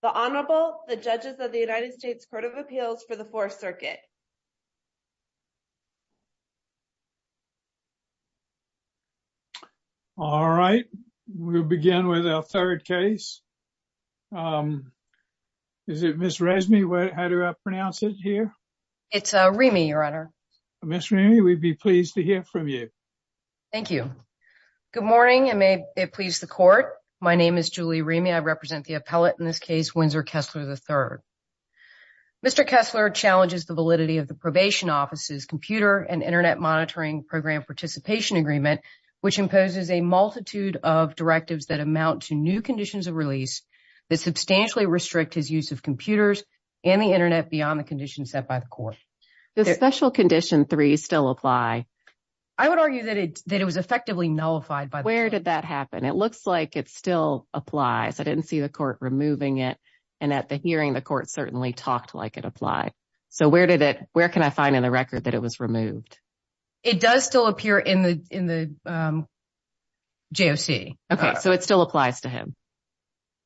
The Honorable, the Judges of the United States Court of Appeals for the Fourth Circuit. All right, we'll begin with our third case. Is it Ms. Remy? How do I pronounce it here? It's Remy, Your Honor. Ms. Remy, we'd be pleased to hear from you. Thank you. Good morning and may it please the Court. My name is Julie Remy. I Kessler, III. Mr. Kessler challenges the validity of the Probation Office's Computer and Internet Monitoring Program Participation Agreement, which imposes a multitude of directives that amount to new conditions of release that substantially restrict his use of computers and the internet beyond the conditions set by the Court. Does Special Condition 3 still apply? I would argue that it was effectively nullified by the Court. Where did that happen? It looks like it still applies. I didn't see the Court removing it, and at the hearing, the Court certainly talked like it applied. So where did it, where can I find in the record that it was removed? It does still appear in the, in the JOC. Okay, so it still applies to him?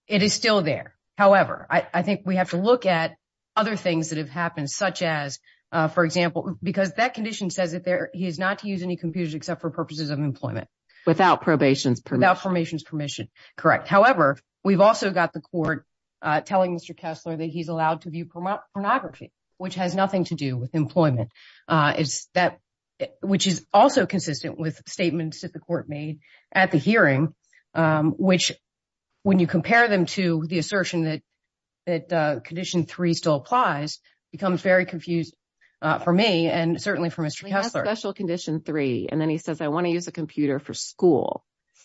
It is still there. However, I think we have to look at other things that have happened, such as, for example, because that condition says that there, he is not to use any computers except for purposes of employment. Without probation's permission? Without probation's permission, correct. However, we've also got the Court telling Mr. Kessler that he's allowed to view pornography, which has nothing to do with employment. It's that, which is also consistent with statements that the Court made at the hearing, which, when you compare them to the assertion that, that Condition 3 still applies, becomes very confused for me and certainly for Mr. Kessler. He has Special Condition 3, and then he says, I want to use a computer for school.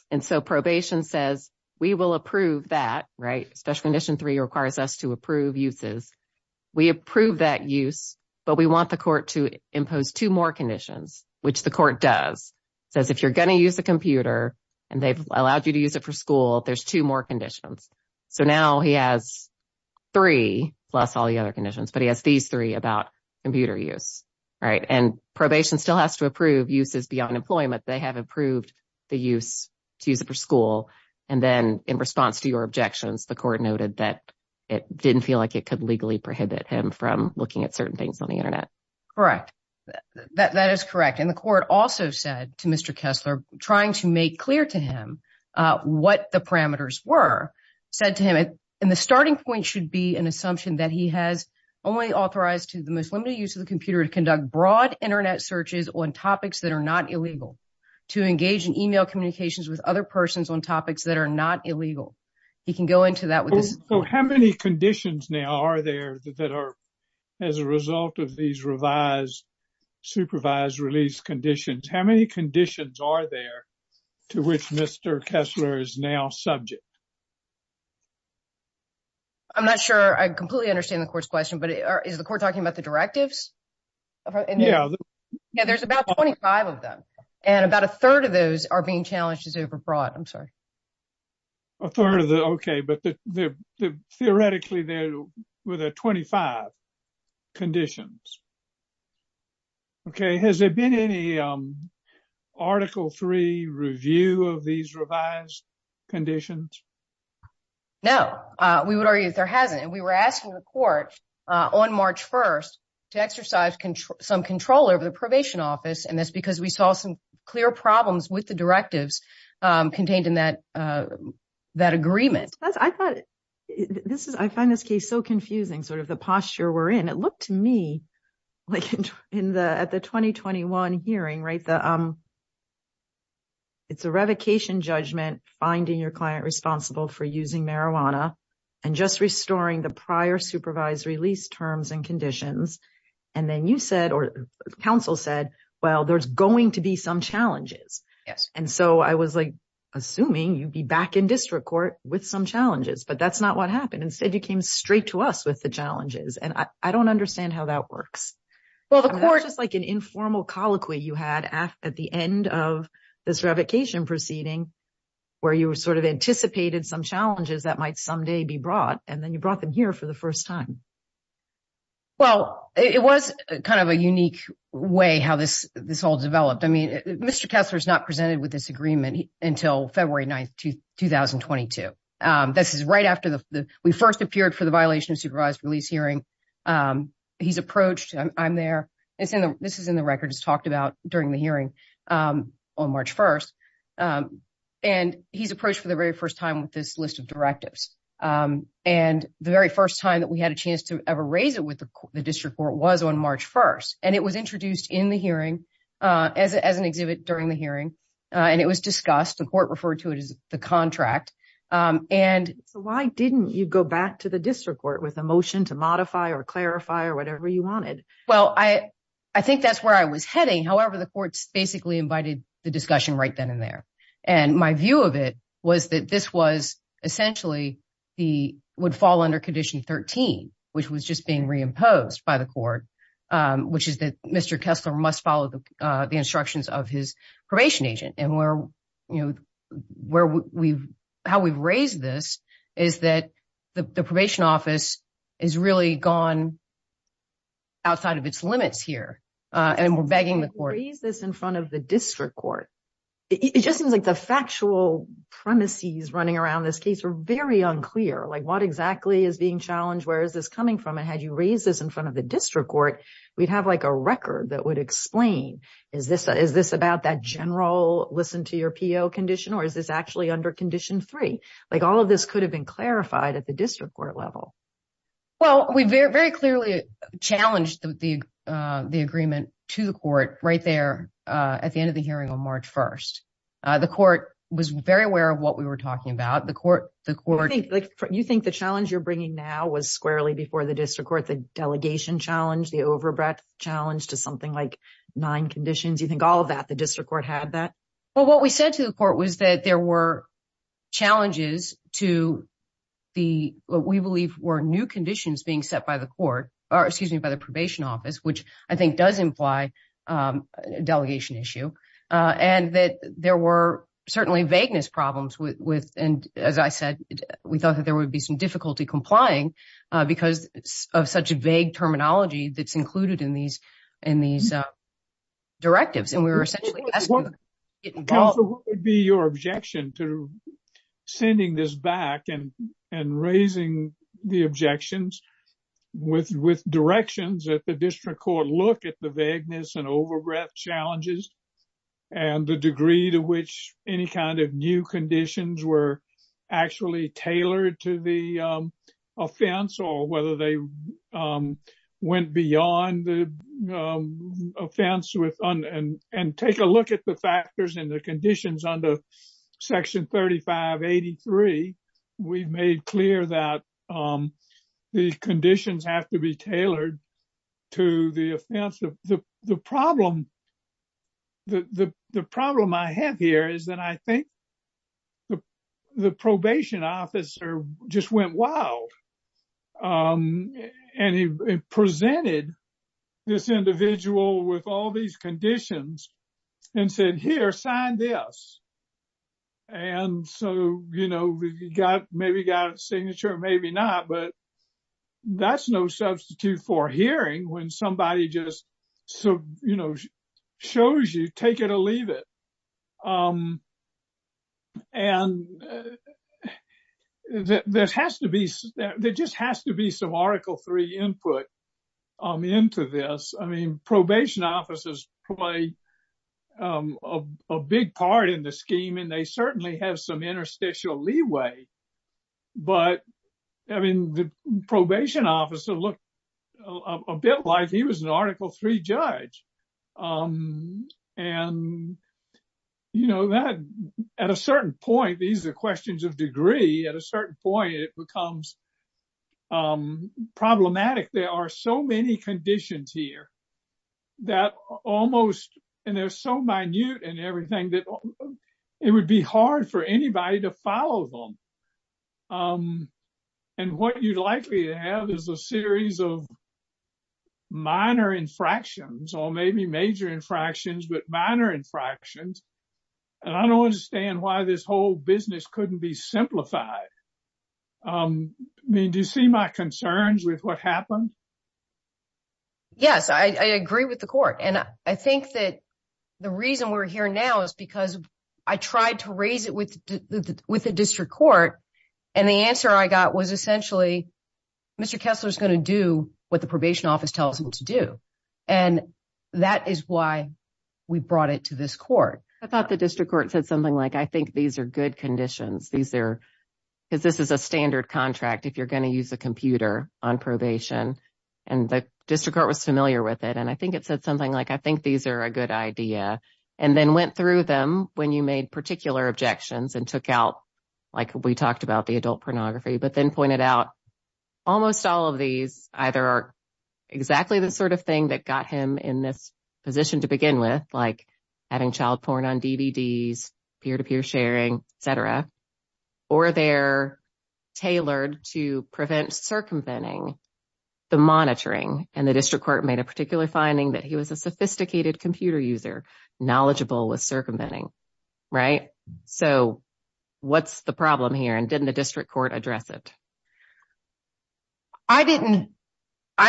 And so probation says, we will approve that, right? Special Condition 3 requires us to approve uses. We approve that use, but we want the Court to impose two more conditions, which the Court does. Says, if you're going to use a computer, and they've allowed you to use it for school, there's two more conditions. So now he has three, plus all the other conditions, but he has these three about computer use, right? And probation still has to approve uses beyond employment. They have approved the use, to use it for school. And then in response to your objections, the Court noted that it didn't feel like it could legally prohibit him from looking at certain things on the Internet. Correct. That is correct. And the Court also said to Mr. Kessler, trying to make clear to him what the parameters were, said to him, and the starting point should be an assumption that he has only authorized to the most limited use of the computer to conduct broad Internet searches on topics that are not illegal, to engage in email communications with other persons on topics that are not illegal. He can go into that with this. So how many conditions now are there that are, as a result of these revised, supervised release conditions, how many conditions are there to which Mr. Kessler is now subject? I'm not sure I completely understand the Court's question, but is the directives? Yeah, there's about 25 of them, and about a third of those are being challenged as overbroad. I'm sorry. A third of the, okay, but theoretically there were the 25 conditions. Okay. Has there been any Article III review of these revised conditions? No, we would argue that there hasn't. And we were asking the Court on March 1st to exercise some control over the probation office, and that's because we saw some clear problems with the directives contained in that agreement. I find this case so confusing, sort of the posture we're in. It looked to me like at the 2021 hearing, right, it's a revocation judgment, finding your client responsible for using marijuana, and just restoring the prior supervised release terms and conditions. And then you said, or counsel said, well, there's going to be some challenges. Yes. And so I was like, assuming you'd be back in district court with some challenges, but that's not what happened. Instead, you came straight to us with the challenges, and I don't understand how that works. Well, the Court- It's just like an informal colloquy you had at the end of this revocation proceeding, where you sort of anticipated some challenges that might someday be brought, and then you brought them here for the first time. Well, it was kind of a unique way how this all developed. I mean, Mr. Kessler's not presented with this agreement until February 9th, 2022. This is right after we first appeared for the during the hearing on March 1st. And he's approached for the very first time with this list of directives. And the very first time that we had a chance to ever raise it with the district court was on March 1st. And it was introduced in the hearing as an exhibit during the hearing, and it was discussed. The Court referred to it as the contract. So why didn't you go back to the district court with a motion to modify or clarify or whatever you wanted? Well, I think that's where I was heading. However, the Court basically invited the discussion right then and there. And my view of it was that this was essentially would fall under Condition 13, which was just being reimposed by the Court, which is that Mr. Kessler must follow the instructions of his probation agent. And how we've raised this is that the probation office is really gone outside of its limits here. And we're begging the Court. Raise this in front of the district court. It just seems like the factual premises running around this case are very unclear. Like what exactly is being challenged? Where is this coming from? And had you raised this in front of the district court, we'd have like a record that would explain, is this about that general listen to your PO condition? Or is this actually under Condition 3? Like all of this could have been clarified at the district court level. Well, we very clearly challenged the agreement to the Court right there at the end of the hearing on March 1st. The Court was very aware of what we were talking about. You think the challenge you're bringing now was squarely before the district court, the delegation challenge, the overbreath challenge to something like nine conditions? You think all of that, the district court had that? Well, what we said to the Court was that there were challenges to what we believe were new conditions being set by the court, or excuse me, by the probation office, which I think does imply a delegation issue. And that there were certainly vagueness problems with, and as I said, we thought that there would be some difficulty complying because of such a vague terminology that's included in these directives. So what would be your objection to sending this back and raising the objections with directions that the district court look at the vagueness and overbreath challenges and the degree to which any kind of new conditions were actually tailored to the offense, or whether they went beyond the offense and take a look at the factors and the conditions under section 3583. We've made clear that the conditions have to be tailored to the offense. The problem I have here is that I think the probation officer just went wild. And he presented this individual with all these conditions and said, here, sign this. And so, you know, maybe got a signature, maybe not, but that's no substitute for hearing when somebody just, you know, shows you, take it or leave it. And there just has to be some article three input into this. I mean, probation officers play a big part in the scheme, and they certainly have some interstitial leeway. But I mean, the probation officer looked a bit like he was an article three judge. And, you know, that at a certain point, these are questions of degree, at a certain point, it becomes problematic. There are so many conditions here that almost, and they're so minute and everything that it would be hard for anybody to follow them. And what you'd likely have is a series of minor infractions, or maybe major infractions, but minor infractions. And I don't understand why this whole business couldn't be simplified. I mean, do you see my concerns with what happened? Yes, I agree with the court. And I think that the reason we're here now is because I tried to raise it with the district court. And the answer I got was essentially, Mr. Kessler is going to do what the probation office tells him to do. And that is why we brought it to this court. I thought the district court said something like, I think these are good conditions. These are, because this is a standard contract, if you're going to use a computer on probation, and the district court was familiar with it. And I think it said something like, I think these are a good idea. And then went through them when you made particular objections and took out, like we talked about the adult pornography, but then pointed out almost all of these either are exactly the sort of thing that got him in this position to begin with, like adding child porn on DVDs, peer-to-peer sharing, etc. Or they're tailored to prevent circumventing the monitoring. And the district court made a particular finding that he was a sophisticated computer user, knowledgeable with circumventing, right? So what's the problem here? And didn't the district court address it? I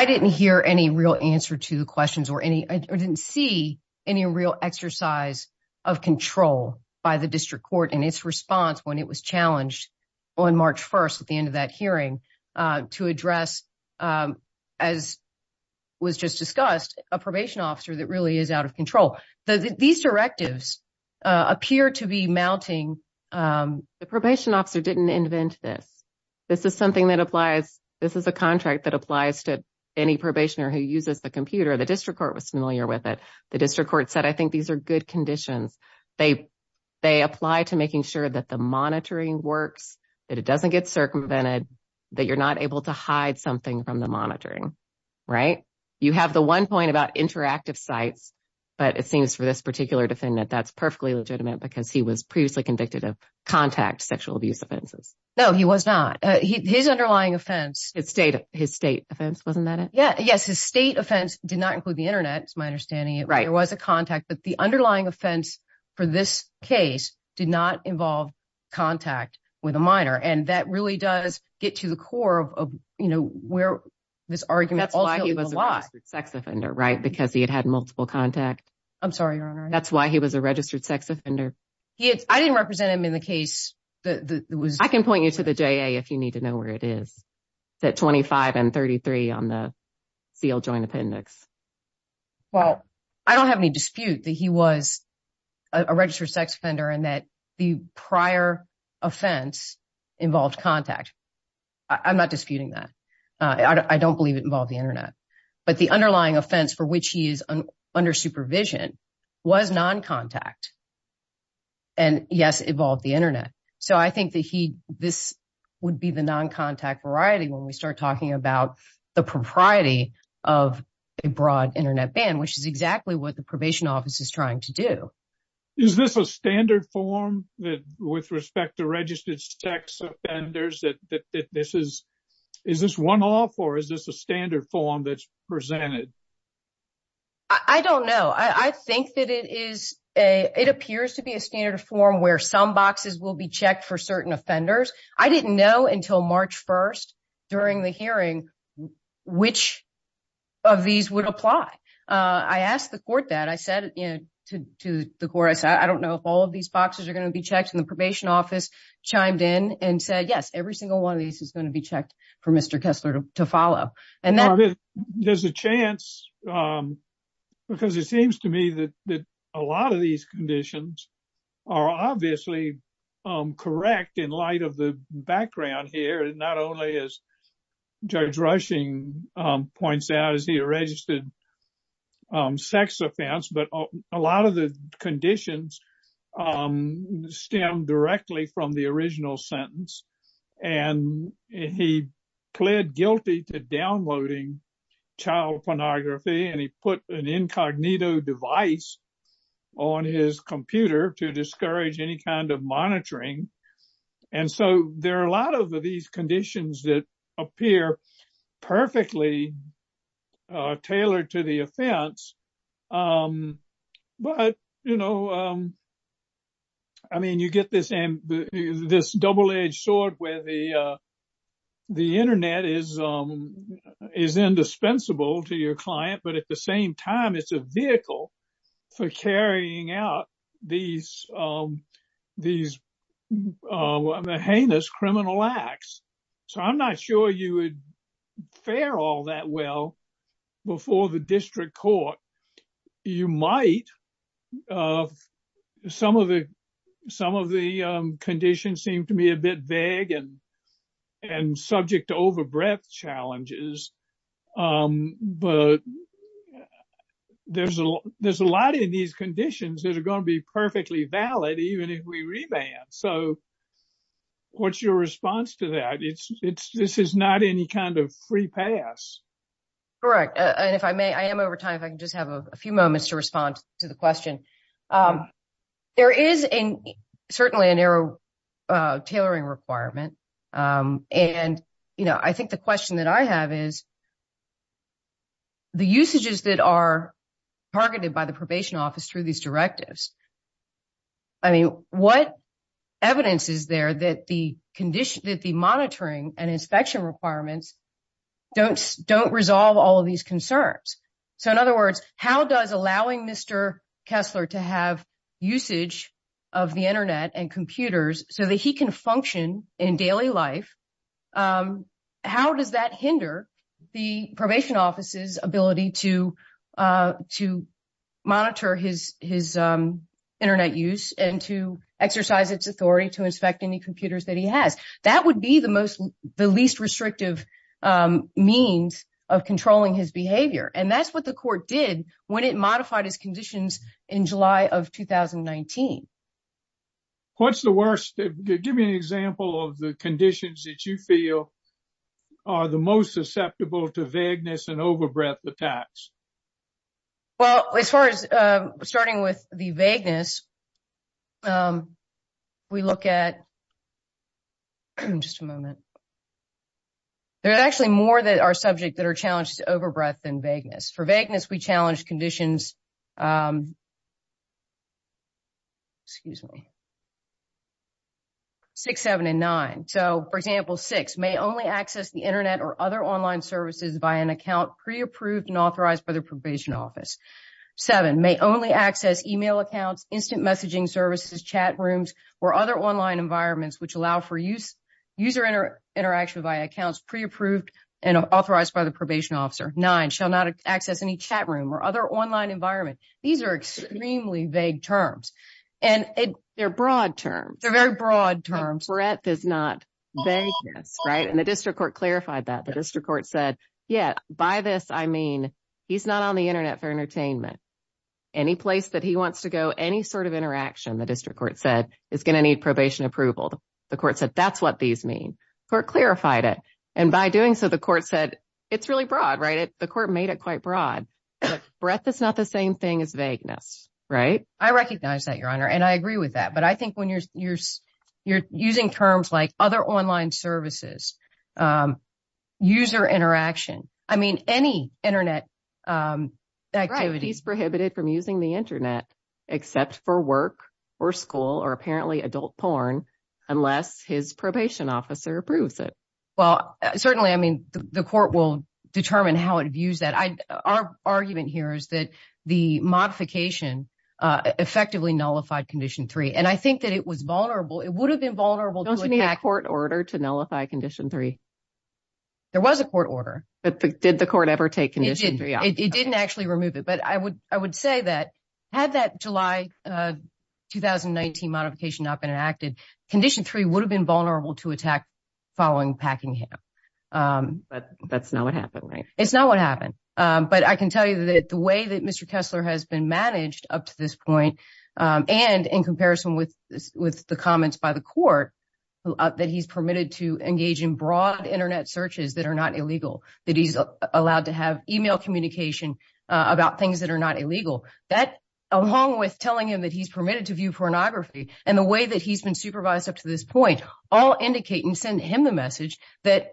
didn't hear any real answer to the questions or didn't see any real exercise of control by the district court in its response when it was challenged on March 1st, at the end of that hearing, to address, as was just discussed, a probation officer that really is out of control. These directives appear to be mounting. The probation officer didn't invent this. This is something that applies, this is a contract that applies to any probationer who uses the computer. The district court was familiar with it. The district court said, I think these are good conditions. They apply to making sure that the monitoring works, that it doesn't get circumvented, that you're not able to hide something from the monitoring, right? You have the one point about interactive sites, but it seems for this particular defendant, that's perfectly legitimate because he was previously convicted of contact sexual abuse offenses. No, he was not. His underlying offense, his state offense, wasn't that it? Yes, his state offense did not include the internet, is my understanding. There was a contact, but the underlying offense for this case did not involve contact with a minor. That really does get to the core of where this argument ultimately- That's why he was a registered sex offender, right? Because he had had multiple contact. I'm sorry, Your Honor. That's why he was a registered sex offender. I didn't represent him in the case that was- I can point you to the JA if you need to know where it is. It's at 25 and 33 on the sealed joint appendix. Well, I don't have any dispute that he was a registered sex offender and that the prior offense involved contact. I'm not disputing that. I don't believe it involved the internet. But the underlying offense for which he is under supervision was non-contact. And yes, it involved the internet. So I think that this would be the non-contact variety when we start talking about the propriety of a broad internet ban, which is exactly what the probation office is trying to do. Is this a standard form with respect to registered sex offenders that this is- Is this one-off or is this a standard form that's presented? I don't know. I think that it appears to be a standard form where some boxes will be checked for certain offenders. I didn't know until March 1st during the hearing which of these would apply. I asked the court that. I said to the court, I said, I don't know if all of these boxes are going to be checked. And the probation office chimed in and said, yes, every single one of these is going to be checked for Mr. Kessler to follow. And there's a chance because it seems to me that a lot of these conditions are obviously correct in light of the background here, not only as Judge Rushing points out, as he registered sex offense, but a lot of the conditions stem directly from the original sentence. And he pled guilty to downloading child pornography and he put an incognito device on his computer to discourage any kind of monitoring. And so there are a lot of these conditions that appear perfectly tailored to the offense. But, you know, I mean, you get this double-edged sword where the internet is indispensable to your client, but at the same time, it's a vehicle for carrying out these heinous criminal acts. So I'm not sure you would fare all that well before the district court. You might. Some of the conditions seem to me a bit vague and these conditions that are going to be perfectly valid, even if we revamp. So what's your response to that? This is not any kind of free pass. Correct. And if I may, I am over time. I can just have a few moments to respond to the question. There is certainly a narrow tailoring requirement. And, you know, I think the question that I have is that the usages that are targeted by the probation office through these directives, I mean, what evidence is there that the monitoring and inspection requirements don't resolve all of these concerns? So in other words, how does allowing Mr. Kessler to have usage of the internet and computers so that he can function in daily life, how does that hinder the probation office's ability to monitor his internet use and to exercise its authority to inspect any computers that he has? That would be the least restrictive means of controlling his behavior. And that's what the court did when it modified his conditions in a way that you feel are the most susceptible to vagueness and overbreath attacks. Well, as far as starting with the vagueness, we look at just a moment. There's actually more that are subject that are challenged to overbreath than vagueness. For example, six, may only access the internet or other online services by an account pre-approved and authorized by the probation office. Seven, may only access email accounts, instant messaging services, chat rooms, or other online environments which allow for user interaction by accounts pre-approved and authorized by the probation officer. Nine, shall not access any chat room or other online environment. These are extremely vague terms. They're broad terms. They're very vagueness, right? And the district court clarified that. The district court said, yeah, by this, I mean, he's not on the internet for entertainment. Any place that he wants to go, any sort of interaction, the district court said, is going to need probation approval. The court said, that's what these mean. The court clarified it. And by doing so, the court said, it's really broad, right? The court made it quite broad. Breath is not the same thing as vagueness, right? I recognize that, Your Honor. And I agree with that. But I think when you're using terms like other online services, user interaction, I mean, any internet activities. He's prohibited from using the internet except for work or school or apparently adult porn, unless his probation officer approves it. Well, certainly, I mean, the court will determine how it views that. Our argument here is that the modification effectively nullified condition three. And I think that it was vulnerable. It would have been vulnerable court order to nullify condition three. There was a court order. But did the court ever take condition? It didn't actually remove it. But I would say that had that July 2019 modification not been enacted, condition three would have been vulnerable to attack following Packingham. But that's not what happened, right? It's not what happened. But I can tell you that the way that Mr. Kessler has been managed up to this point, and in comparison with the comments by the court, that he's permitted to engage in broad internet searches that are not illegal, that he's allowed to have email communication about things that are not illegal, that along with telling him that he's permitted to view pornography and the way that he's been supervised up to this point, all indicate and send him the message that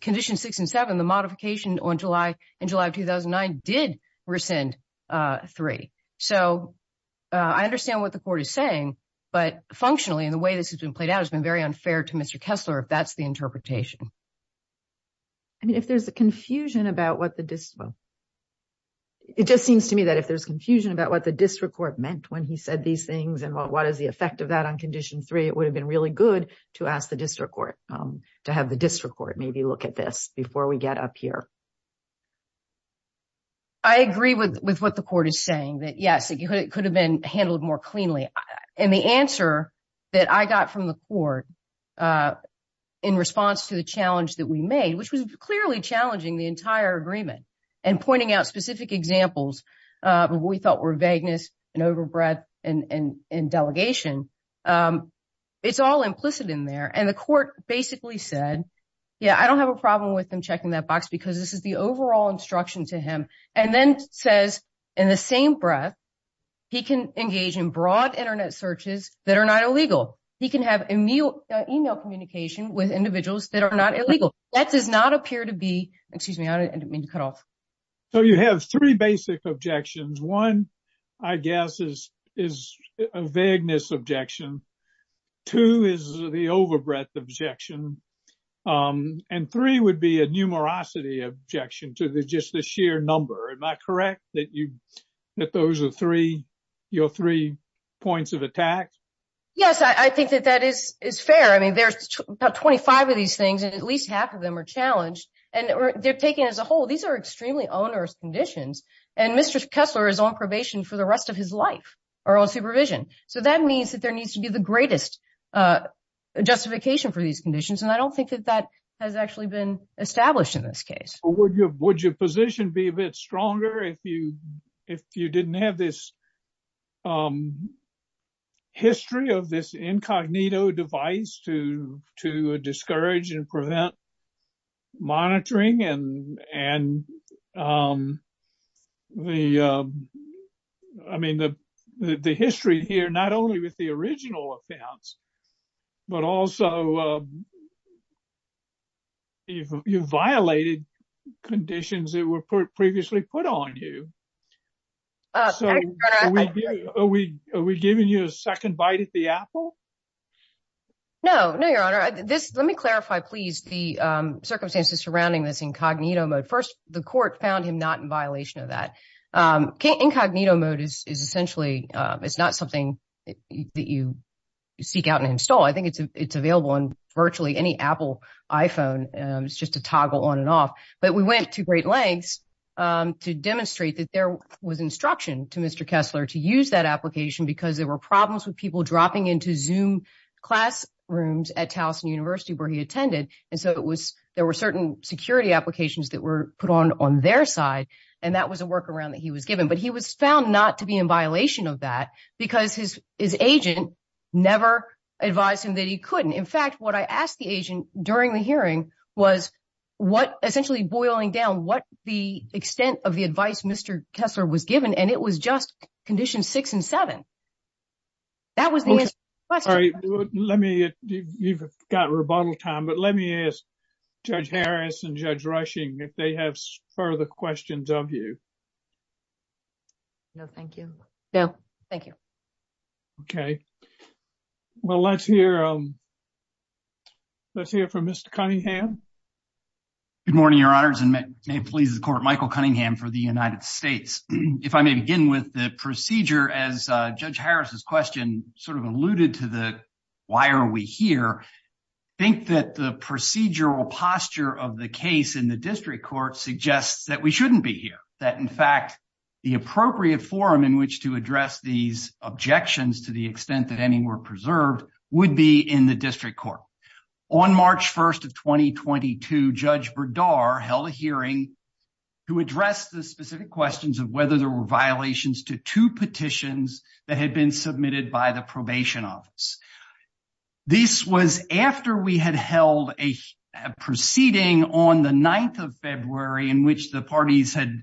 condition six and seven, the modification in July of 2009, did rescind three. So I understand what the court is saying. But functionally, in the way this has been played out, it's been very unfair to Mr. Kessler if that's the interpretation. I mean, if there's a confusion about what the... It just seems to me that if there's confusion about what the district court meant when he said these things, and what is the effect of that on condition three, it would have been really good to ask the district court to have the district maybe look at this before we get up here. I agree with what the court is saying, that yes, it could have been handled more cleanly. And the answer that I got from the court in response to the challenge that we made, which was clearly challenging the entire agreement and pointing out specific examples of what we thought were vagueness and overbreadth and delegation, it's all implicit in there. And the court basically said, yeah, I don't have a problem with them checking that box, because this is the overall instruction to him. And then says, in the same breath, he can engage in broad internet searches that are not illegal. He can have email communication with individuals that are not illegal. That does not appear to be... Excuse me, I didn't mean to cut off. So you have three basic objections. One, I guess is a vagueness objection. Two is the overbreadth objection. And three would be a numerosity objection to just the sheer number. Am I correct that those are three points of attack? Yes, I think that that is fair. I mean, there's about 25 of these things, and at least half of them are challenged. And they're taken as a whole. These are extremely onerous conditions. And Mr. Kessler is on probation for the rest of his life, or on supervision. So that means that there needs to be the greatest justification for these conditions. And I don't think that that has actually been established in this case. Would your position be a bit stronger if you didn't have this history of this incognito device to discourage and prevent monitoring? I mean, the history here, not only with the original offense, but also you violated conditions that were previously put on you. So are we giving you a second bite at the apple? No, no, your honor. Let me clarify, please, the circumstances surrounding this incognito mode. First, the court found him not in violation of that. Incognito mode is essentially, it's not something that you seek out and install. I think it's available on virtually any Apple iPhone. It's just a toggle on and off. But we went to great lengths to demonstrate that there was instruction to Mr. Kessler to use that application because there were problems with people dropping into Zoom classrooms at Towson University where he attended. And so there were certain security applications that were put on their side. And that was a workaround that he was given. But he was found not to be in violation of that because his agent never advised him that he couldn't. In fact, what I asked the agent during the hearing was what essentially boiling down what the extent of the advice Mr. Kessler was given, and it was just condition six and seven. That was the question. Sorry, let me, you've got rebuttal time, but let me ask Judge Harris and Judge Rushing if they have further questions of you. No, thank you. No, thank you. Okay. Well, let's hear from Mr. Cunningham. Good morning, Your Honors, and may it please the Court, Michael Cunningham for the United States. If I may begin with the procedure, as Judge Harris's question sort of alluded to the why are we here, I think that the procedural posture of the case in the district court suggests that we shouldn't be here, that in fact, the appropriate forum in which to address these objections to the extent that any were preserved would be in the district court. On March 1st of 2022, Judge Berdar held a hearing to address the specific questions of whether there were violations to two petitions that had been submitted by the probation office. This was after we had held a proceeding on the 9th of February in which the parties had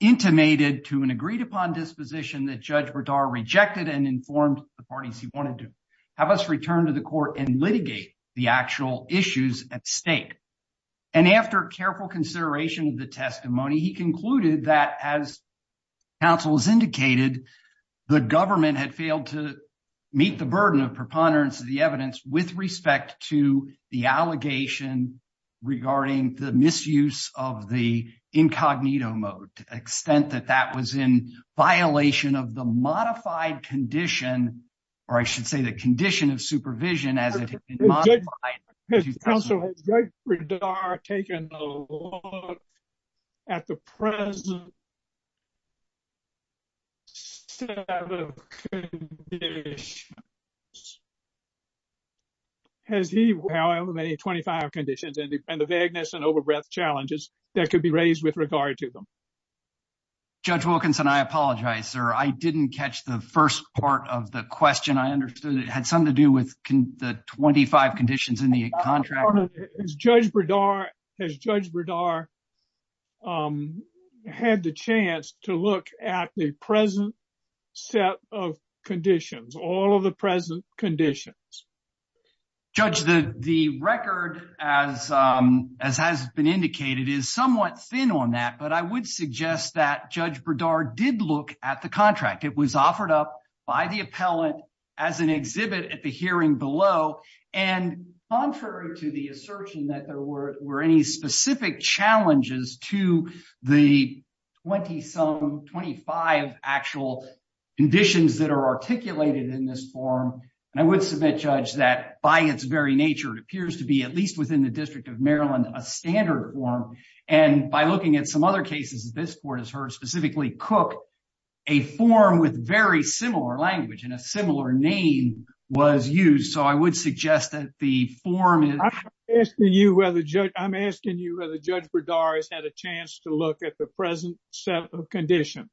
intimated to and agreed upon disposition that Judge Berdar rejected and informed the parties he wanted to have us return to the court and litigate the actual issues at stake. And after careful consideration of the testimony, he concluded that as counsel has indicated, the government had failed to meet the burden of preponderance of the evidence with respect to the allegation regarding the violation of the modified condition, or I should say the condition of supervision as it has been modified. Has counsel, has Judge Berdar taken a look at the present set of conditions? Has he, however, made 25 conditions and the vagueness and I apologize, sir. I didn't catch the first part of the question. I understood it had something to do with the 25 conditions in the contract. Has Judge Berdar, has Judge Berdar had the chance to look at the present set of conditions, all of the present conditions? Judge, the record as has been indicated is somewhat thin on that, but I would suggest that Judge Berdar did look at the contract. It was offered up by the appellant as an exhibit at the hearing below. And contrary to the assertion that there were any specific challenges to the 20-some, 25 actual conditions that are articulated in this form, I would submit, Judge, that by its very nature, it appears to be at least within the District of Maryland, a standard form. And by looking at some other cases, this court has heard specifically Cook, a form with very similar language and a similar name was used. So I would suggest that the form is... I'm asking you whether Judge Berdar has had a chance to look at the present set of conditions.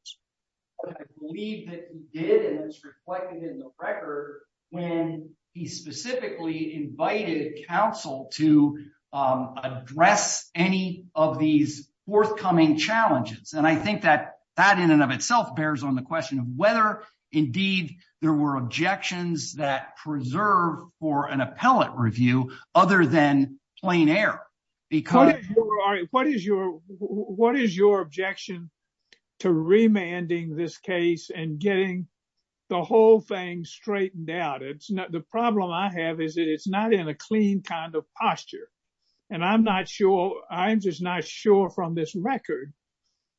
I believe that he did, and it's reflected in the record, when he specifically invited counsel to address any of these forthcoming challenges. And I think that that in and of itself bears on the question of whether indeed there were objections that preserved for an appellate review other than plain air, because... What is your objection to remanding this case and getting the whole thing straightened out? The problem I have is that it's not in a clean kind of posture. And I'm not sure, I'm just not sure from this record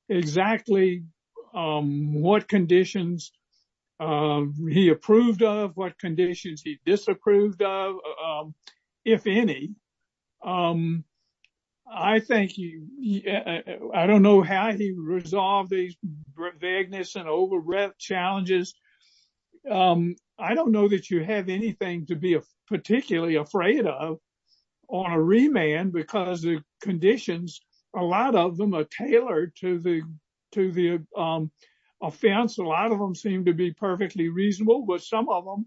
exactly what conditions he approved of, what conditions he disapproved of, if any. I don't know how he resolved these vagueness and overrep challenges. I don't know that you have anything to be particularly afraid of on a remand because the conditions, a lot of them are tailored to the offense. A lot of them seem to be perfectly reasonable, but some of them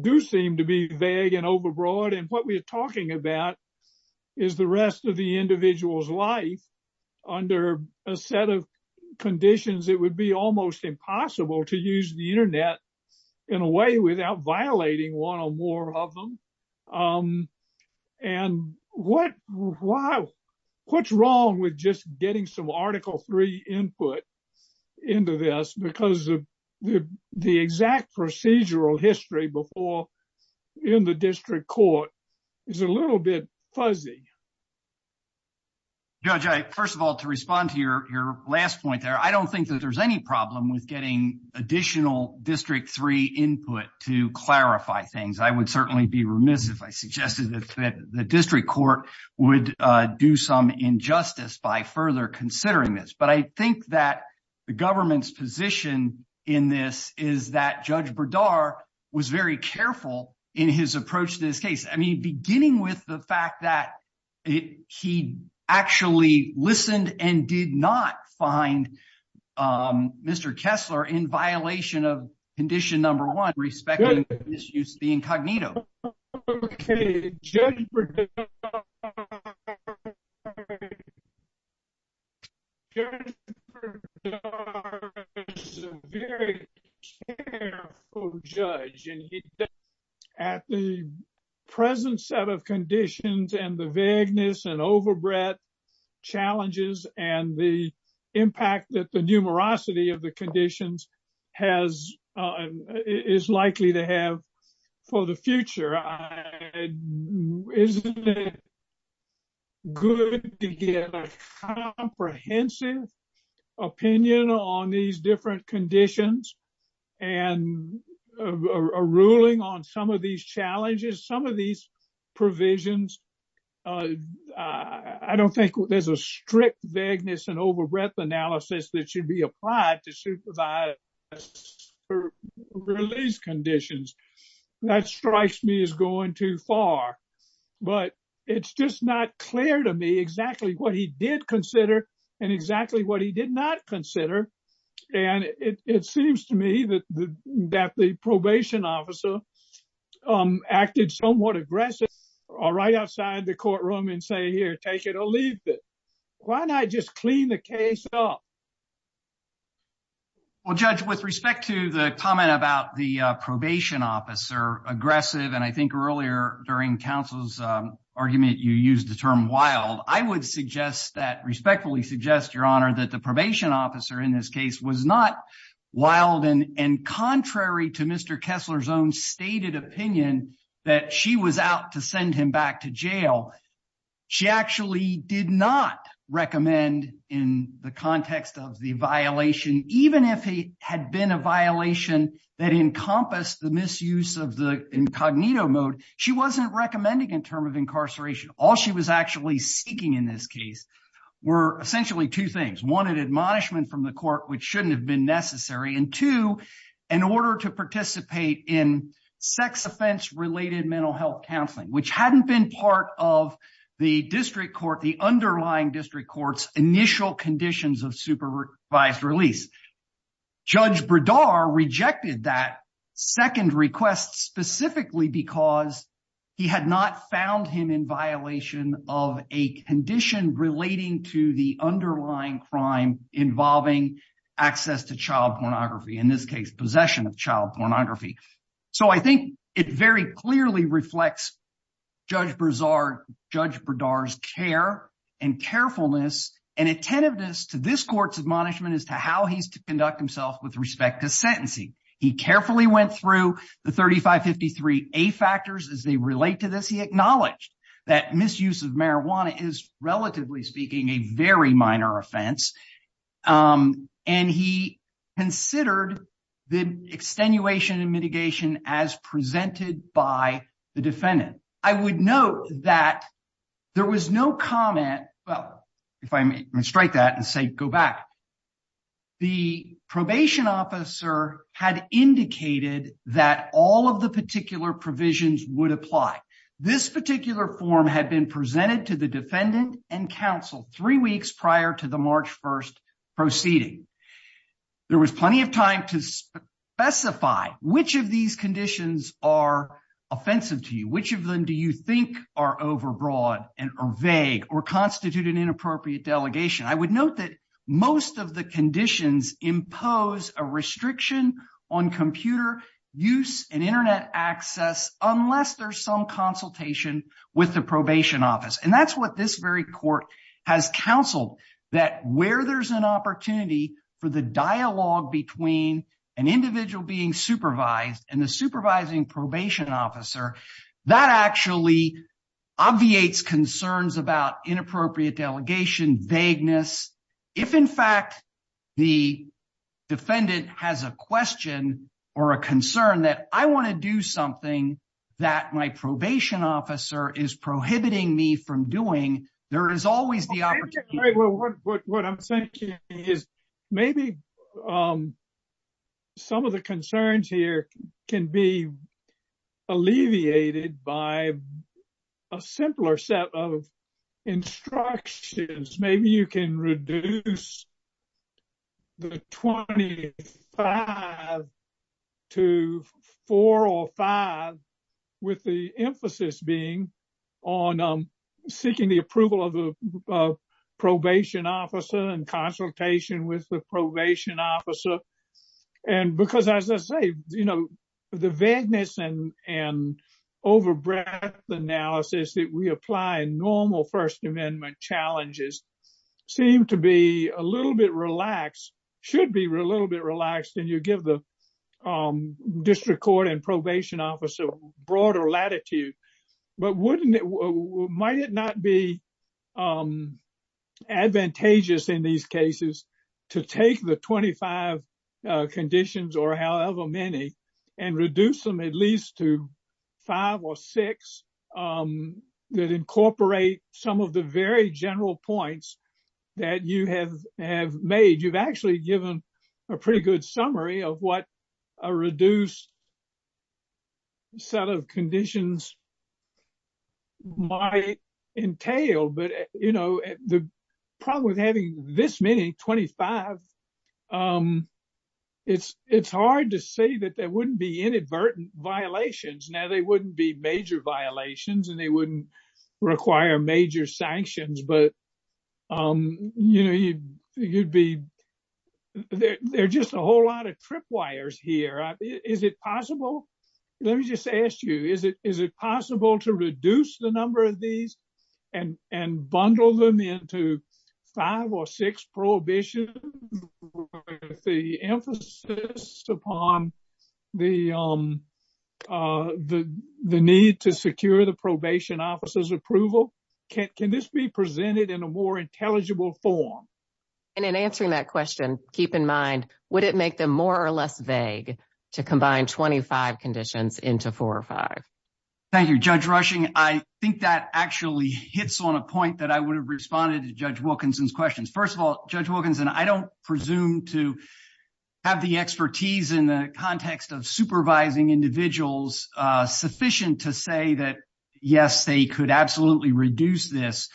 do seem to be vague and overbroad. And what we're talking about is the rest of the individual's life under a set of conditions, it would be almost impossible to use the internet in a way without violating one or more of them. And what's wrong with just getting some Article III input into this because of the exact procedural history before in the district court is a little bit fuzzy. Judge, first of all, to respond to your last point there, I don't think that there's any problem with getting additional District III input to clarify things. I would certainly be remiss if I suggested that the district court would do some injustice by further considering this. But I think that the government's position in this is that Judge Berdar was very careful in his approach to this case. I mean, beginning with the fact that he actually listened and did not find Mr. Kessler in violation of Condition No. 1, respecting the misuse of the incognito. Okay, Judge Berdar is a very careful judge. At the present set of conditions and the vagueness and overbred challenges and the impact that the numerosity of the conditions is likely to have for the future, isn't it good to get a comprehensive opinion on these different conditions and a ruling on some of these challenges, some of these provisions? I don't think there's a strict vagueness and overbred analysis that should be applied to supervise release conditions. That strikes me as going too far. But it's just not clear to me exactly what he did consider and exactly what he did not consider. And it seems to me that the probation officer acted somewhat aggressive right outside the courtroom and say, here, take it or leave it. Why not just clean the case up? Well, Judge, with respect to the comment about the probation officer aggressive, and I think earlier during counsel's argument, you used the term wild, I would respectfully suggest, Your Honor, that the probation officer in this case was not wild and contrary to Mr. Kessler's own stated opinion that she was out to send him back to jail. She actually did not recommend in the context of the violation, even if it had been a violation that encompassed the misuse of the incognito mode, she wasn't recommending in term of incarceration. All she was actually seeking in this case were essentially two things. One, an admonishment from the court, which shouldn't have been necessary. And two, in order to participate in sex offense related mental health counseling, which hadn't been part of the district court, the underlying district court's initial conditions of supervised release. Judge Berdar rejected that second request specifically because he had not found him in violation of a condition relating to the underlying crime involving access to child pornography, in this case, possession of child pornography. So I think it very clearly reflects Judge Berdar's care and carefulness and attentiveness to this court's admonishment as to how he's to conduct himself with respect to sentencing. He carefully went through the 3553A factors as they relate to this. He acknowledged that misuse of marijuana is relatively speaking, a very minor offense. And he considered the extenuation and mitigation as presented by the defendant. I would note that there was no comment, well, if I may strike that and say, go back. The probation officer had indicated that all of the particular provisions would apply. This particular form had been presented to the defendant and counsel three weeks prior to the March 1st proceeding. There was plenty of time to specify which of these conditions are offensive to you. Which of them do you think are overbroad and are vague or constitute an inappropriate delegation? I would note that most of the conditions impose a restriction on computer use and internet access unless there's some consultation with the probation office. And that's what this very court has counseled, that where there's an opportunity for the dialogue between an individual being supervised and the supervising probation officer, that actually obviates concerns about inappropriate delegation, vagueness. If in fact the defendant has a question or a concern that I want to do something that my probation officer is prohibiting me from doing, there is always the opportunity. What I'm thinking is maybe some of the concerns here can be alleviated by a simpler set of instructions. Maybe you can reduce the 25 to four or five with the emphasis being on seeking the approval of the probation officer and consultation with the probation officer. And because as I say, the vagueness and overbreadth analysis that we apply in normal First Amendment challenges seem to be a little bit relaxed, should be a little bit relaxed and you give the district court and probation officer broader latitude. But might it not be advantageous in these cases to take the 25 conditions or however many and reduce them at least to five or six that incorporate some of the very general points that you have made? You've actually given a pretty good summary of what a reduced set of conditions might entail. But the problem with having this many, 25, it's hard to say that there wouldn't be inadvertent violations. Now, they wouldn't be major violations and they wouldn't require major sanctions, but there are just a whole lot of tripwires here. Is it possible? Let me just ask you, is it possible to reduce the number of these and bundle them into five or six prohibitions with the emphasis upon the need to secure the probation officer's approval? Can this be presented in a more intelligible form? And in answering that question, keep in mind, would it make them more or less vague to combine 25 conditions into four or five? Thank you, Judge Rushing. I think that actually hits on a point that I would have responded to Judge Wilkinson's questions. First of all, Judge Wilkinson, I don't presume to have the expertise in the context of supervising individuals sufficient to say that, yes, they could absolutely reduce this.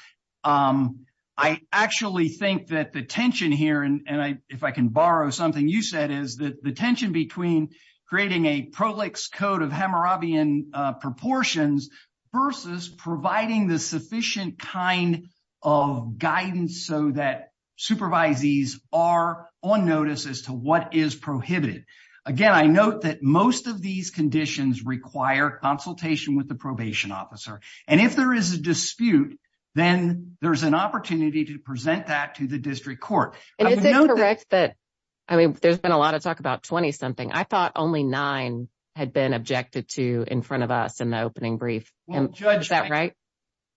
I actually think that the tension here, and if I can borrow something you said, is that the tension between creating a prolix code of Hammurabian proportions versus providing the sufficient kind of guidance so that supervisees are on notice as to what is prohibited. Again, I note that most of these conditions require consultation with the probation officer. And if there is a dispute, then there's an opportunity to present that to the district court. And is it correct that, I mean, there's been a lot of talk about 20-something. I thought only nine had been objected to in front of us in the opening brief. Is that right?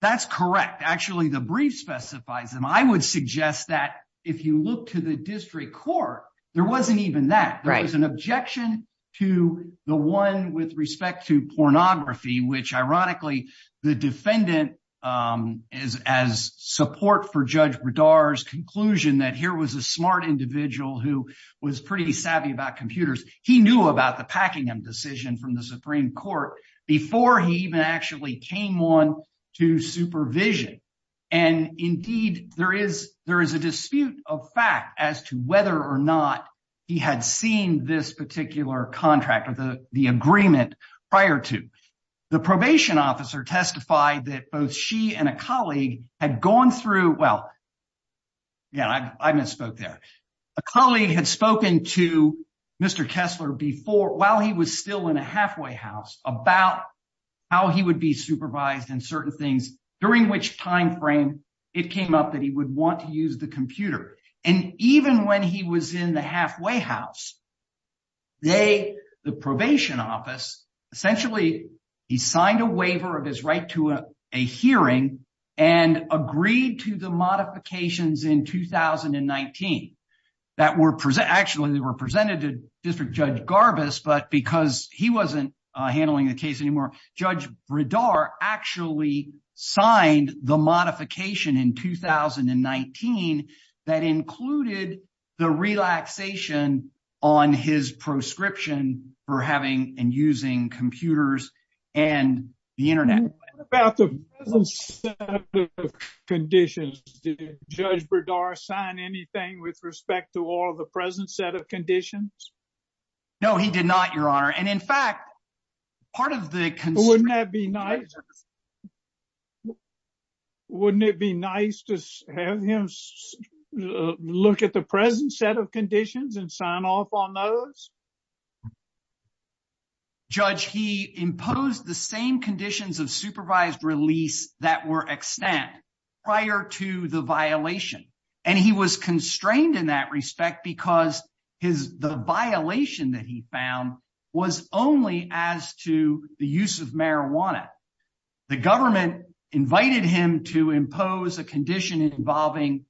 That's correct. Actually, the brief specifies them. I would suggest that if you look to the district court, there wasn't even that. There was an objection to the one with respect to pornography, which, ironically, the defendant, as support for Judge Bredar's conclusion that here was a smart individual who was pretty savvy about computers, he knew about the Packingham decision from the Supreme Court before he even actually came on to supervision. And indeed, there is a dispute of fact as to whether or not he had seen this contract or the agreement prior to. The probation officer testified that both she and a colleague had gone through, well, yeah, I misspoke there. A colleague had spoken to Mr. Kessler before, while he was still in a halfway house, about how he would be supervised and certain things, during which time frame it came up that he would want to use the computer. And even when he was in the halfway house, they, the probation office, essentially, he signed a waiver of his right to a hearing and agreed to the modifications in 2019 that were actually presented to District Judge Garbus, but because he wasn't handling the case anymore, Judge Bredar actually signed the modification in 2019 that included the relaxation on his proscription for having and using computers and the internet. What about the present set of conditions? Did Judge Bredar sign anything with respect to all of the present set of conditions? No, he did not, Your Honor. And in fact, part of the- Wouldn't that be nice? Wouldn't it be nice to have him look at the present set of conditions and sign off on those? Judge, he imposed the same conditions of supervised release that were extant prior to the violation. And he was constrained in that respect because the violation that he found was only as to the use of marijuana. The government invited him to impose a condition involving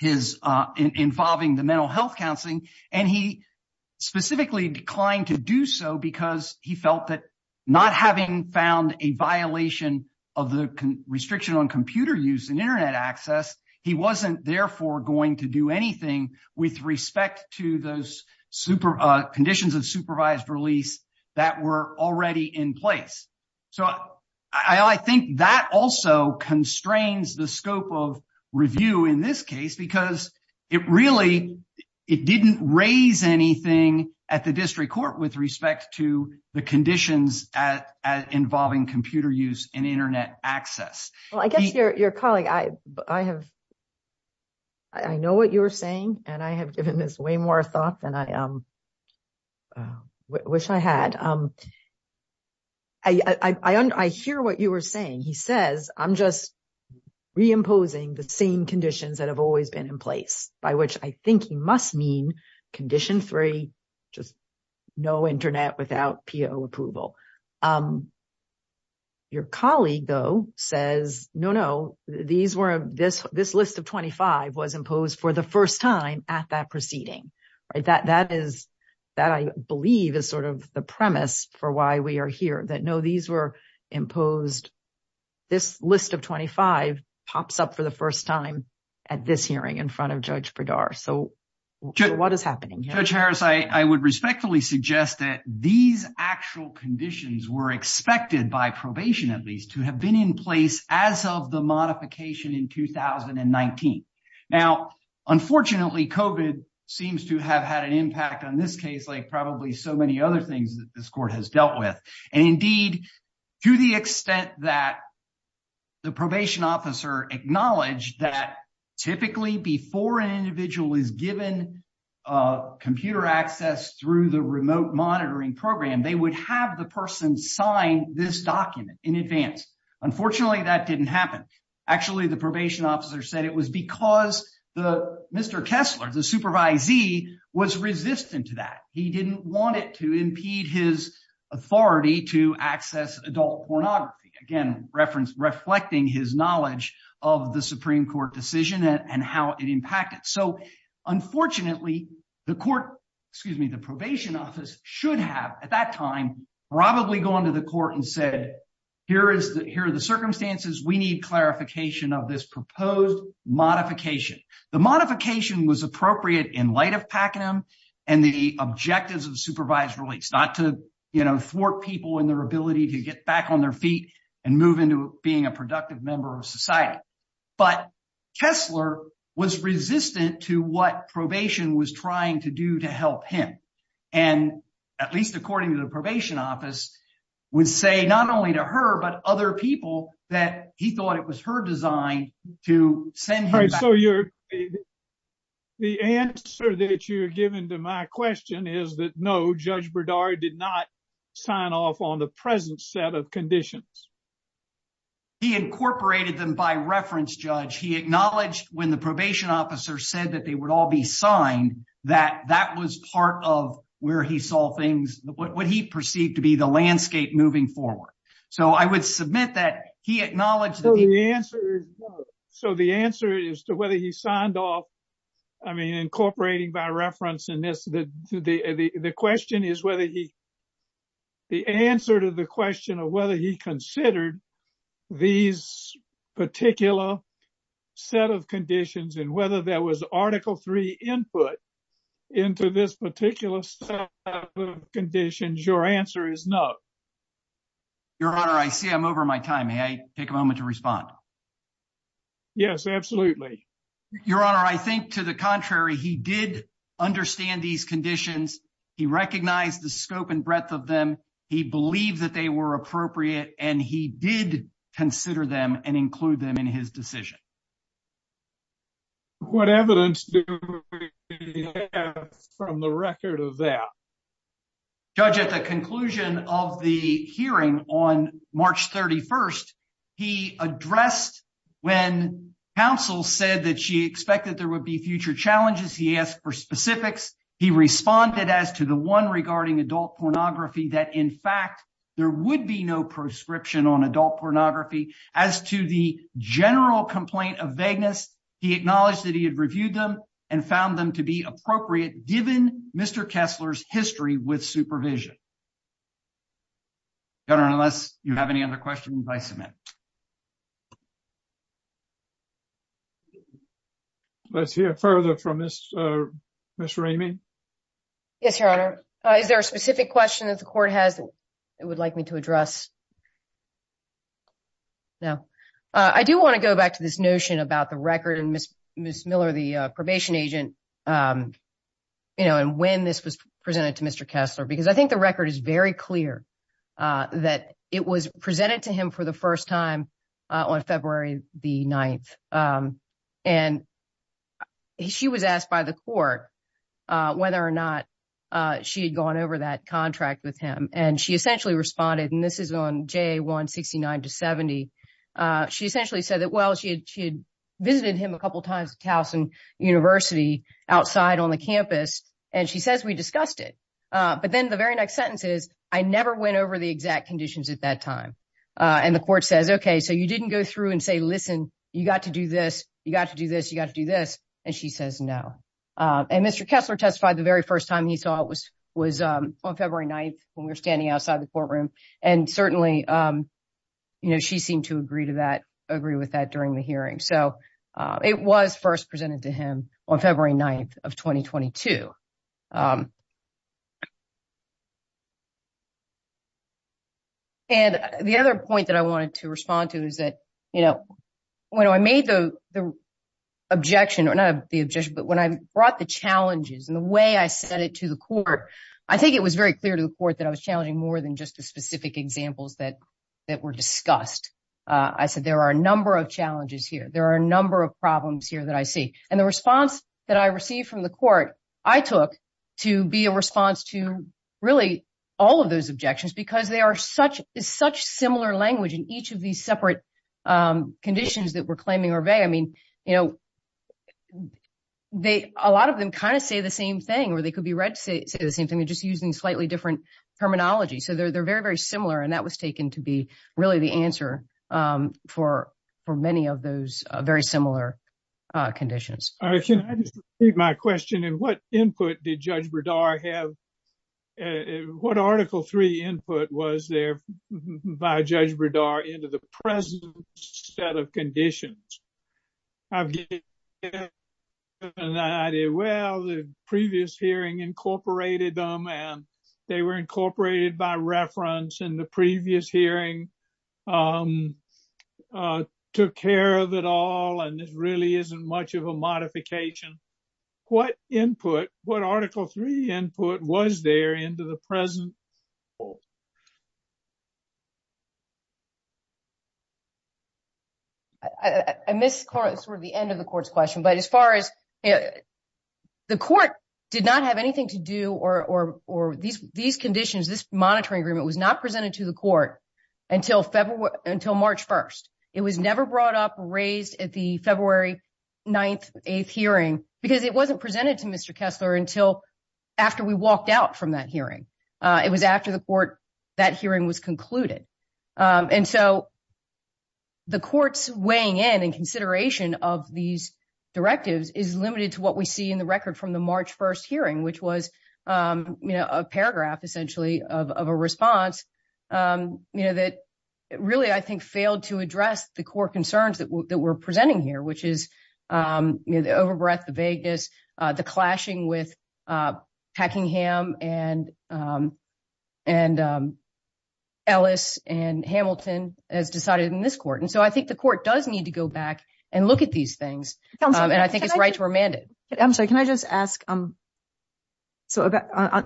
the mental health counseling, and he specifically declined to do so because he felt that not having found a violation of the restriction on computer use and internet access, he wasn't therefore going to do anything with respect to those conditions of supervised release that were already in place. So I think that also constrains the scope of review in this case, because it really, it didn't raise anything at the District Court with respect to the conditions involving computer use and internet access. Well, I guess your colleague, I have, I know what you were saying, and I have given this way more thought than I wish I had. I hear what you were saying. He says, I'm just reimposing the same conditions that have always been in place, by which I think he must mean condition three, just no internet without PO approval. Your colleague, though, says, no, no, this list of 25 was imposed for the first time at that proceeding. That I believe is sort of the premise for why we are here, that no, these were imposed, this list of 25 pops up for the first time at this hearing in front of Judge were expected by probation, at least, to have been in place as of the modification in 2019. Now, unfortunately, COVID seems to have had an impact on this case, like probably so many other things that this court has dealt with. And indeed, to the extent that the probation officer acknowledged that typically before an individual is given computer access through the remote monitoring program, they would have the person sign this document in advance. Unfortunately, that didn't happen. Actually, the probation officer said it was because Mr. Kessler, the supervisee, was resistant to that. He didn't want it to impede his authority to access adult pornography, again, reflecting his knowledge of the Supreme Court decision and how it impacted. So, unfortunately, the probation office should have, at that time, probably gone to the court and said, here are the circumstances, we need clarification of this proposed modification. The modification was appropriate in light of Pakenham and the objectives of supervised release, not to thwart people in their ability to get back on their feet and move into being a productive member of society. But Kessler was resistant to what probation was trying to do to help him. And, at least according to the probation office, would say not only to her, but other people, that he thought it was her design to send him back. All right, so the answer that you're giving to my question is that, no, Judge Berdard did not sign off on the present set of conditions. He incorporated them by reference, Judge. He acknowledged when the probation officer said that they would all be signed, that that was part of where he saw things, what he perceived to be, the landscape moving forward. So, I would submit that he acknowledged that he- So, the answer is to whether he signed off, I mean, incorporating by reference in this, the question is whether he, the answer to the question of whether he considered these particular set of conditions and whether there was Article III input into this particular set of conditions, your answer is no. Your Honor, I see I'm over my time. May I take a moment to respond? Yes, absolutely. Your Honor, I think to the contrary, he did understand these conditions. He recognized the scope and breadth of them. He believed that they were appropriate, and he did consider them and include them in his decision. What evidence do we have from the record of that? Judge, at the conclusion of the hearing on March 31st, he addressed when counsel said that she expected there would be future challenges. He asked for specifics. He responded as to the one regarding adult pornography that, in fact, there would be no prescription on adult pornography. As to the general complaint of vagueness, he acknowledged that he had reviewed them and found them to be appropriate, given Mr. Kessler's history with supervision. Your Honor, unless you have any other questions, I submit. Let's hear further from Ms. Raymond. Yes, Your Honor. Is there a specific question that the Court has that it would like me to address? No. I do want to go back to this notion about the record and Ms. Miller, the probation agent, and when this was presented to Mr. Kessler. I think the record is very clear that it was presented to him for the first time on February 9th. She was asked by the Court whether or not she had gone over that contract with him. She essentially responded, and this was on February 9th when we were standing outside the courtroom. Certainly, she seemed to agree with that during the hearing. It was first presented to him on February 9th of 2022. The other point that I wanted to respond to is that when I brought the challenges and the way I said it to the Court, I think it was very clear to the Court that I was challenging more than just specific examples that were discussed. I said there are a number of challenges here, there are a number of problems here that I see. The response that I received from the Court I took to be a response to all of those objections because there is such similar language in each of these separate conditions that we're claiming are vague. I mean, a lot of them kind of say the same thing or they could be read to say the same thing, just using slightly different terminology. So, they're very, very similar, and that was taken to be really the answer for many of those very similar conditions. Can I just repeat my question? What Article III input was there by Judge Bredar into the present set of conditions? I've given you an idea. Well, the previous hearing incorporated them and they were incorporated by reference in the previous hearing, took care of it all, and this really isn't much of a modification. What input, what Article III input was there into the present? I missed sort of the end of the Court's question, but as far as, the Court did not have anything to do or these conditions, this monitoring agreement was not presented to the Court until March 1st. It was never brought up, raised at the February 9th, 8th hearing because it wasn't presented to Mr. Kessler until after we walked out from that after the Court, that hearing was concluded. And so, the Court's weighing in and consideration of these directives is limited to what we see in the record from the March 1st hearing, which was a paragraph, essentially, of a response that really, I think, failed to address the core concerns that we're presenting here, which is the overbreath, the vagueness, the clashing with and Ellis and Hamilton as decided in this Court. And so, I think the Court does need to go back and look at these things. And I think it's right to remand it. I'm sorry, can I just ask, so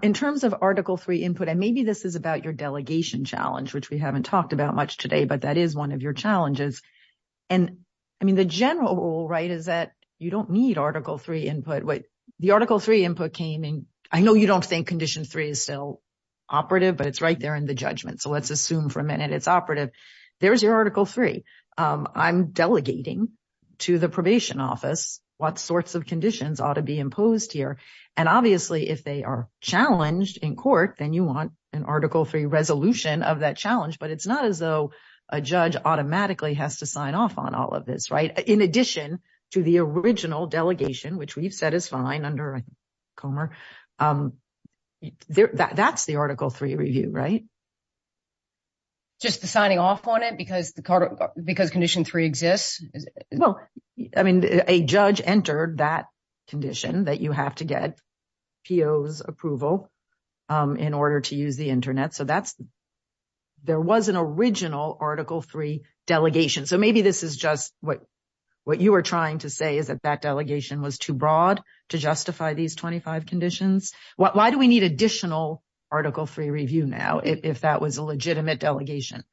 in terms of Article III input, and maybe this is about your delegation challenge, which we haven't talked about much today, but that is one of your challenges. And I mean, the general rule, right, is that you don't need Article III input, but the Article III input came in, I know you don't think Condition 3 is still operative, but it's right there in the judgment. So, let's assume for a minute it's operative. There's your Article III. I'm delegating to the Probation Office what sorts of conditions ought to be imposed here. And obviously, if they are challenged in Court, then you want an Article III resolution of that challenge, but it's not as though a judge automatically has to sign off on it because Condition 3 exists? Well, I mean, a judge entered that condition that you have to get PO's approval in order to use the Internet. So, there was an original Article III delegation. So, maybe this is just what you were trying to say is that that delegation was too broad to justify these 25 conditions. Why do we need additional Article III review now, if that was a legitimate delegation?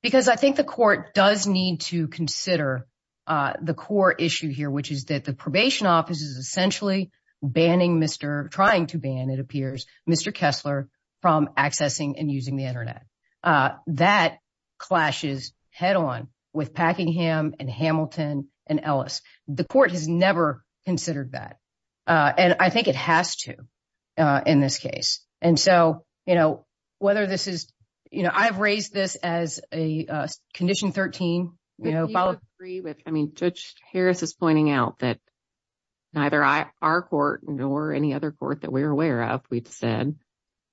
Because I think the Court does need to consider the core issue here, which is that the Probation Office is essentially trying to ban, it appears, Mr. Kessler from accessing and using the Internet. That clashes head-on with Packingham and Hamilton and Ellis. The Court has never considered that. And I think it has to in this case. And so, you know, whether this is, you know, I've raised this as a Condition 13, you know, followed... I mean, Judge Harris is pointing out that neither our court nor any other court that we're aware of, we've said,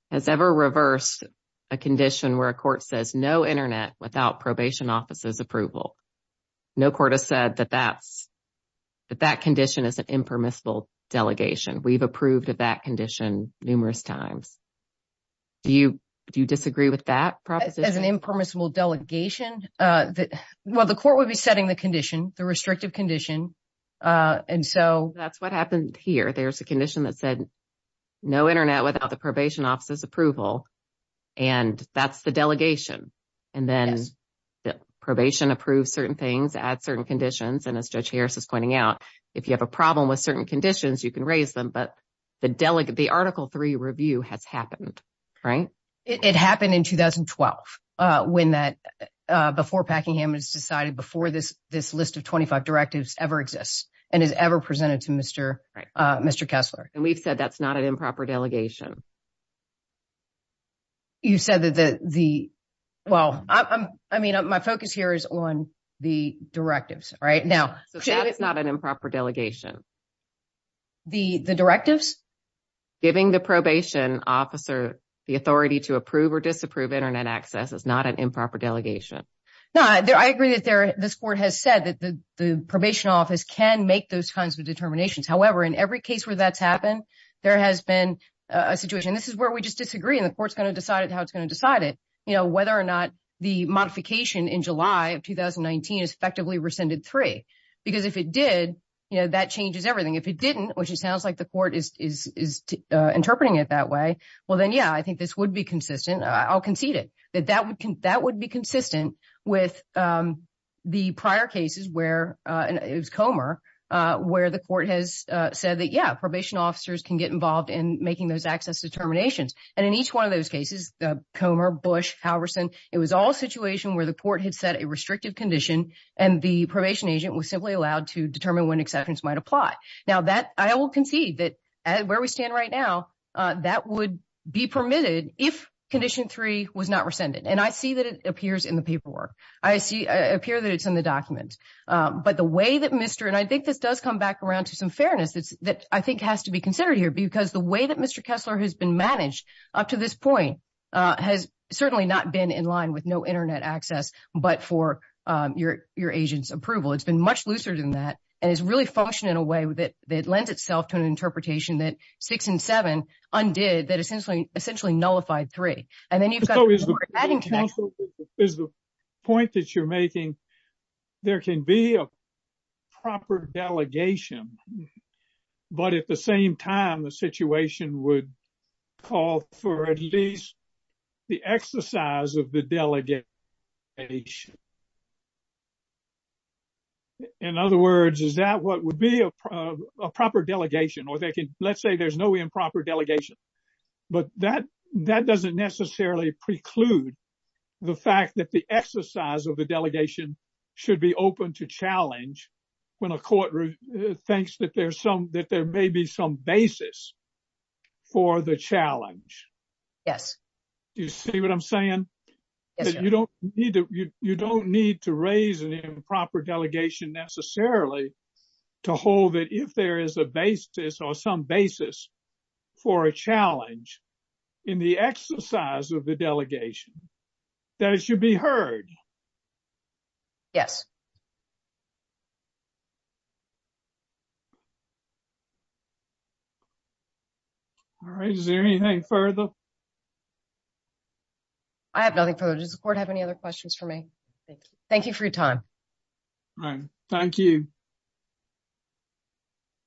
has ever reversed a condition where a court says no Internet without Probation Office's approval. No court has said that that condition is an impermissible delegation. We've approved of that condition numerous times. Do you disagree with that proposition? As an impermissible delegation? Well, the Court would be setting the condition, the restrictive condition. And so... That's what happened here. There's a condition that said no Internet without the Probation Office's approval. And that's the delegation. And then probation approves certain things, adds certain conditions. And as Judge Harris is pointing out, if you have a problem with certain conditions, you can raise them. But the Article III review has happened, right? It happened in 2012, before Packingham has decided, before this list of 25 directives ever exists and is ever presented to Mr. Kessler. And we've said that's not an improper delegation. You said that the... Well, I mean, my focus here is on the directives, right? Now... So that is not an improper delegation. The directives? Giving the probation officer the authority to approve or disapprove Internet access is not an improper delegation. No, I agree that this Court has said that the Probation Office can make those kinds of determinations. However, in every case where that's happened, there has been a situation... This is where we just disagree and the Court's going to decide how it's going to decide it, whether or not the modification in July of 2019 has effectively rescinded III. Because if it did, that changes everything. If it didn't, which it sounds like the Court is interpreting it that way, well then, yeah, I think this would be consistent. I'll concede it, that would be consistent with the prior cases where, and it was Comer, where the Court has said that, yeah, probation officers can get involved in making those access determinations. And in each one of those cases, Comer, Bush, Halverson, it was all a situation where the Court had set a restrictive condition and the probation agent was simply allowed to determine when exceptions might apply. Now, I will concede that where we stand right now, that would be permitted if Condition 3 was not rescinded. And I see that it appears in the paperwork. I see... I appear that it's in the document. But the way that Mr... And I think this does come back around to some fairness that I think has to be considered here, because the way that Mr. Kessler has been managed up to this point has certainly not been in line with no internet access, but for your agent's approval. It's been much looser than that. And it's really in a way that lends itself to an interpretation that 6 and 7 undid, that essentially nullified 3. And then you've got... So is the point that you're making, there can be a proper delegation, but at the same time, the situation would call for at least the exercise of the delegation. Delegation. In other words, is that what would be a proper delegation or they can... Let's say there's no improper delegation, but that doesn't necessarily preclude the fact that the exercise of the delegation should be open to challenge when a court thinks that there may be some basis for the challenge. Yes. Do you see what I'm saying? You don't need to raise an improper delegation necessarily to hold that if there is a basis or some basis for a challenge in the exercise of the delegation, that it should be heard. Yes. All right. Is there anything further? I have nothing further. Does the court have any other questions for me? Thank you for your time. All right. Thank you.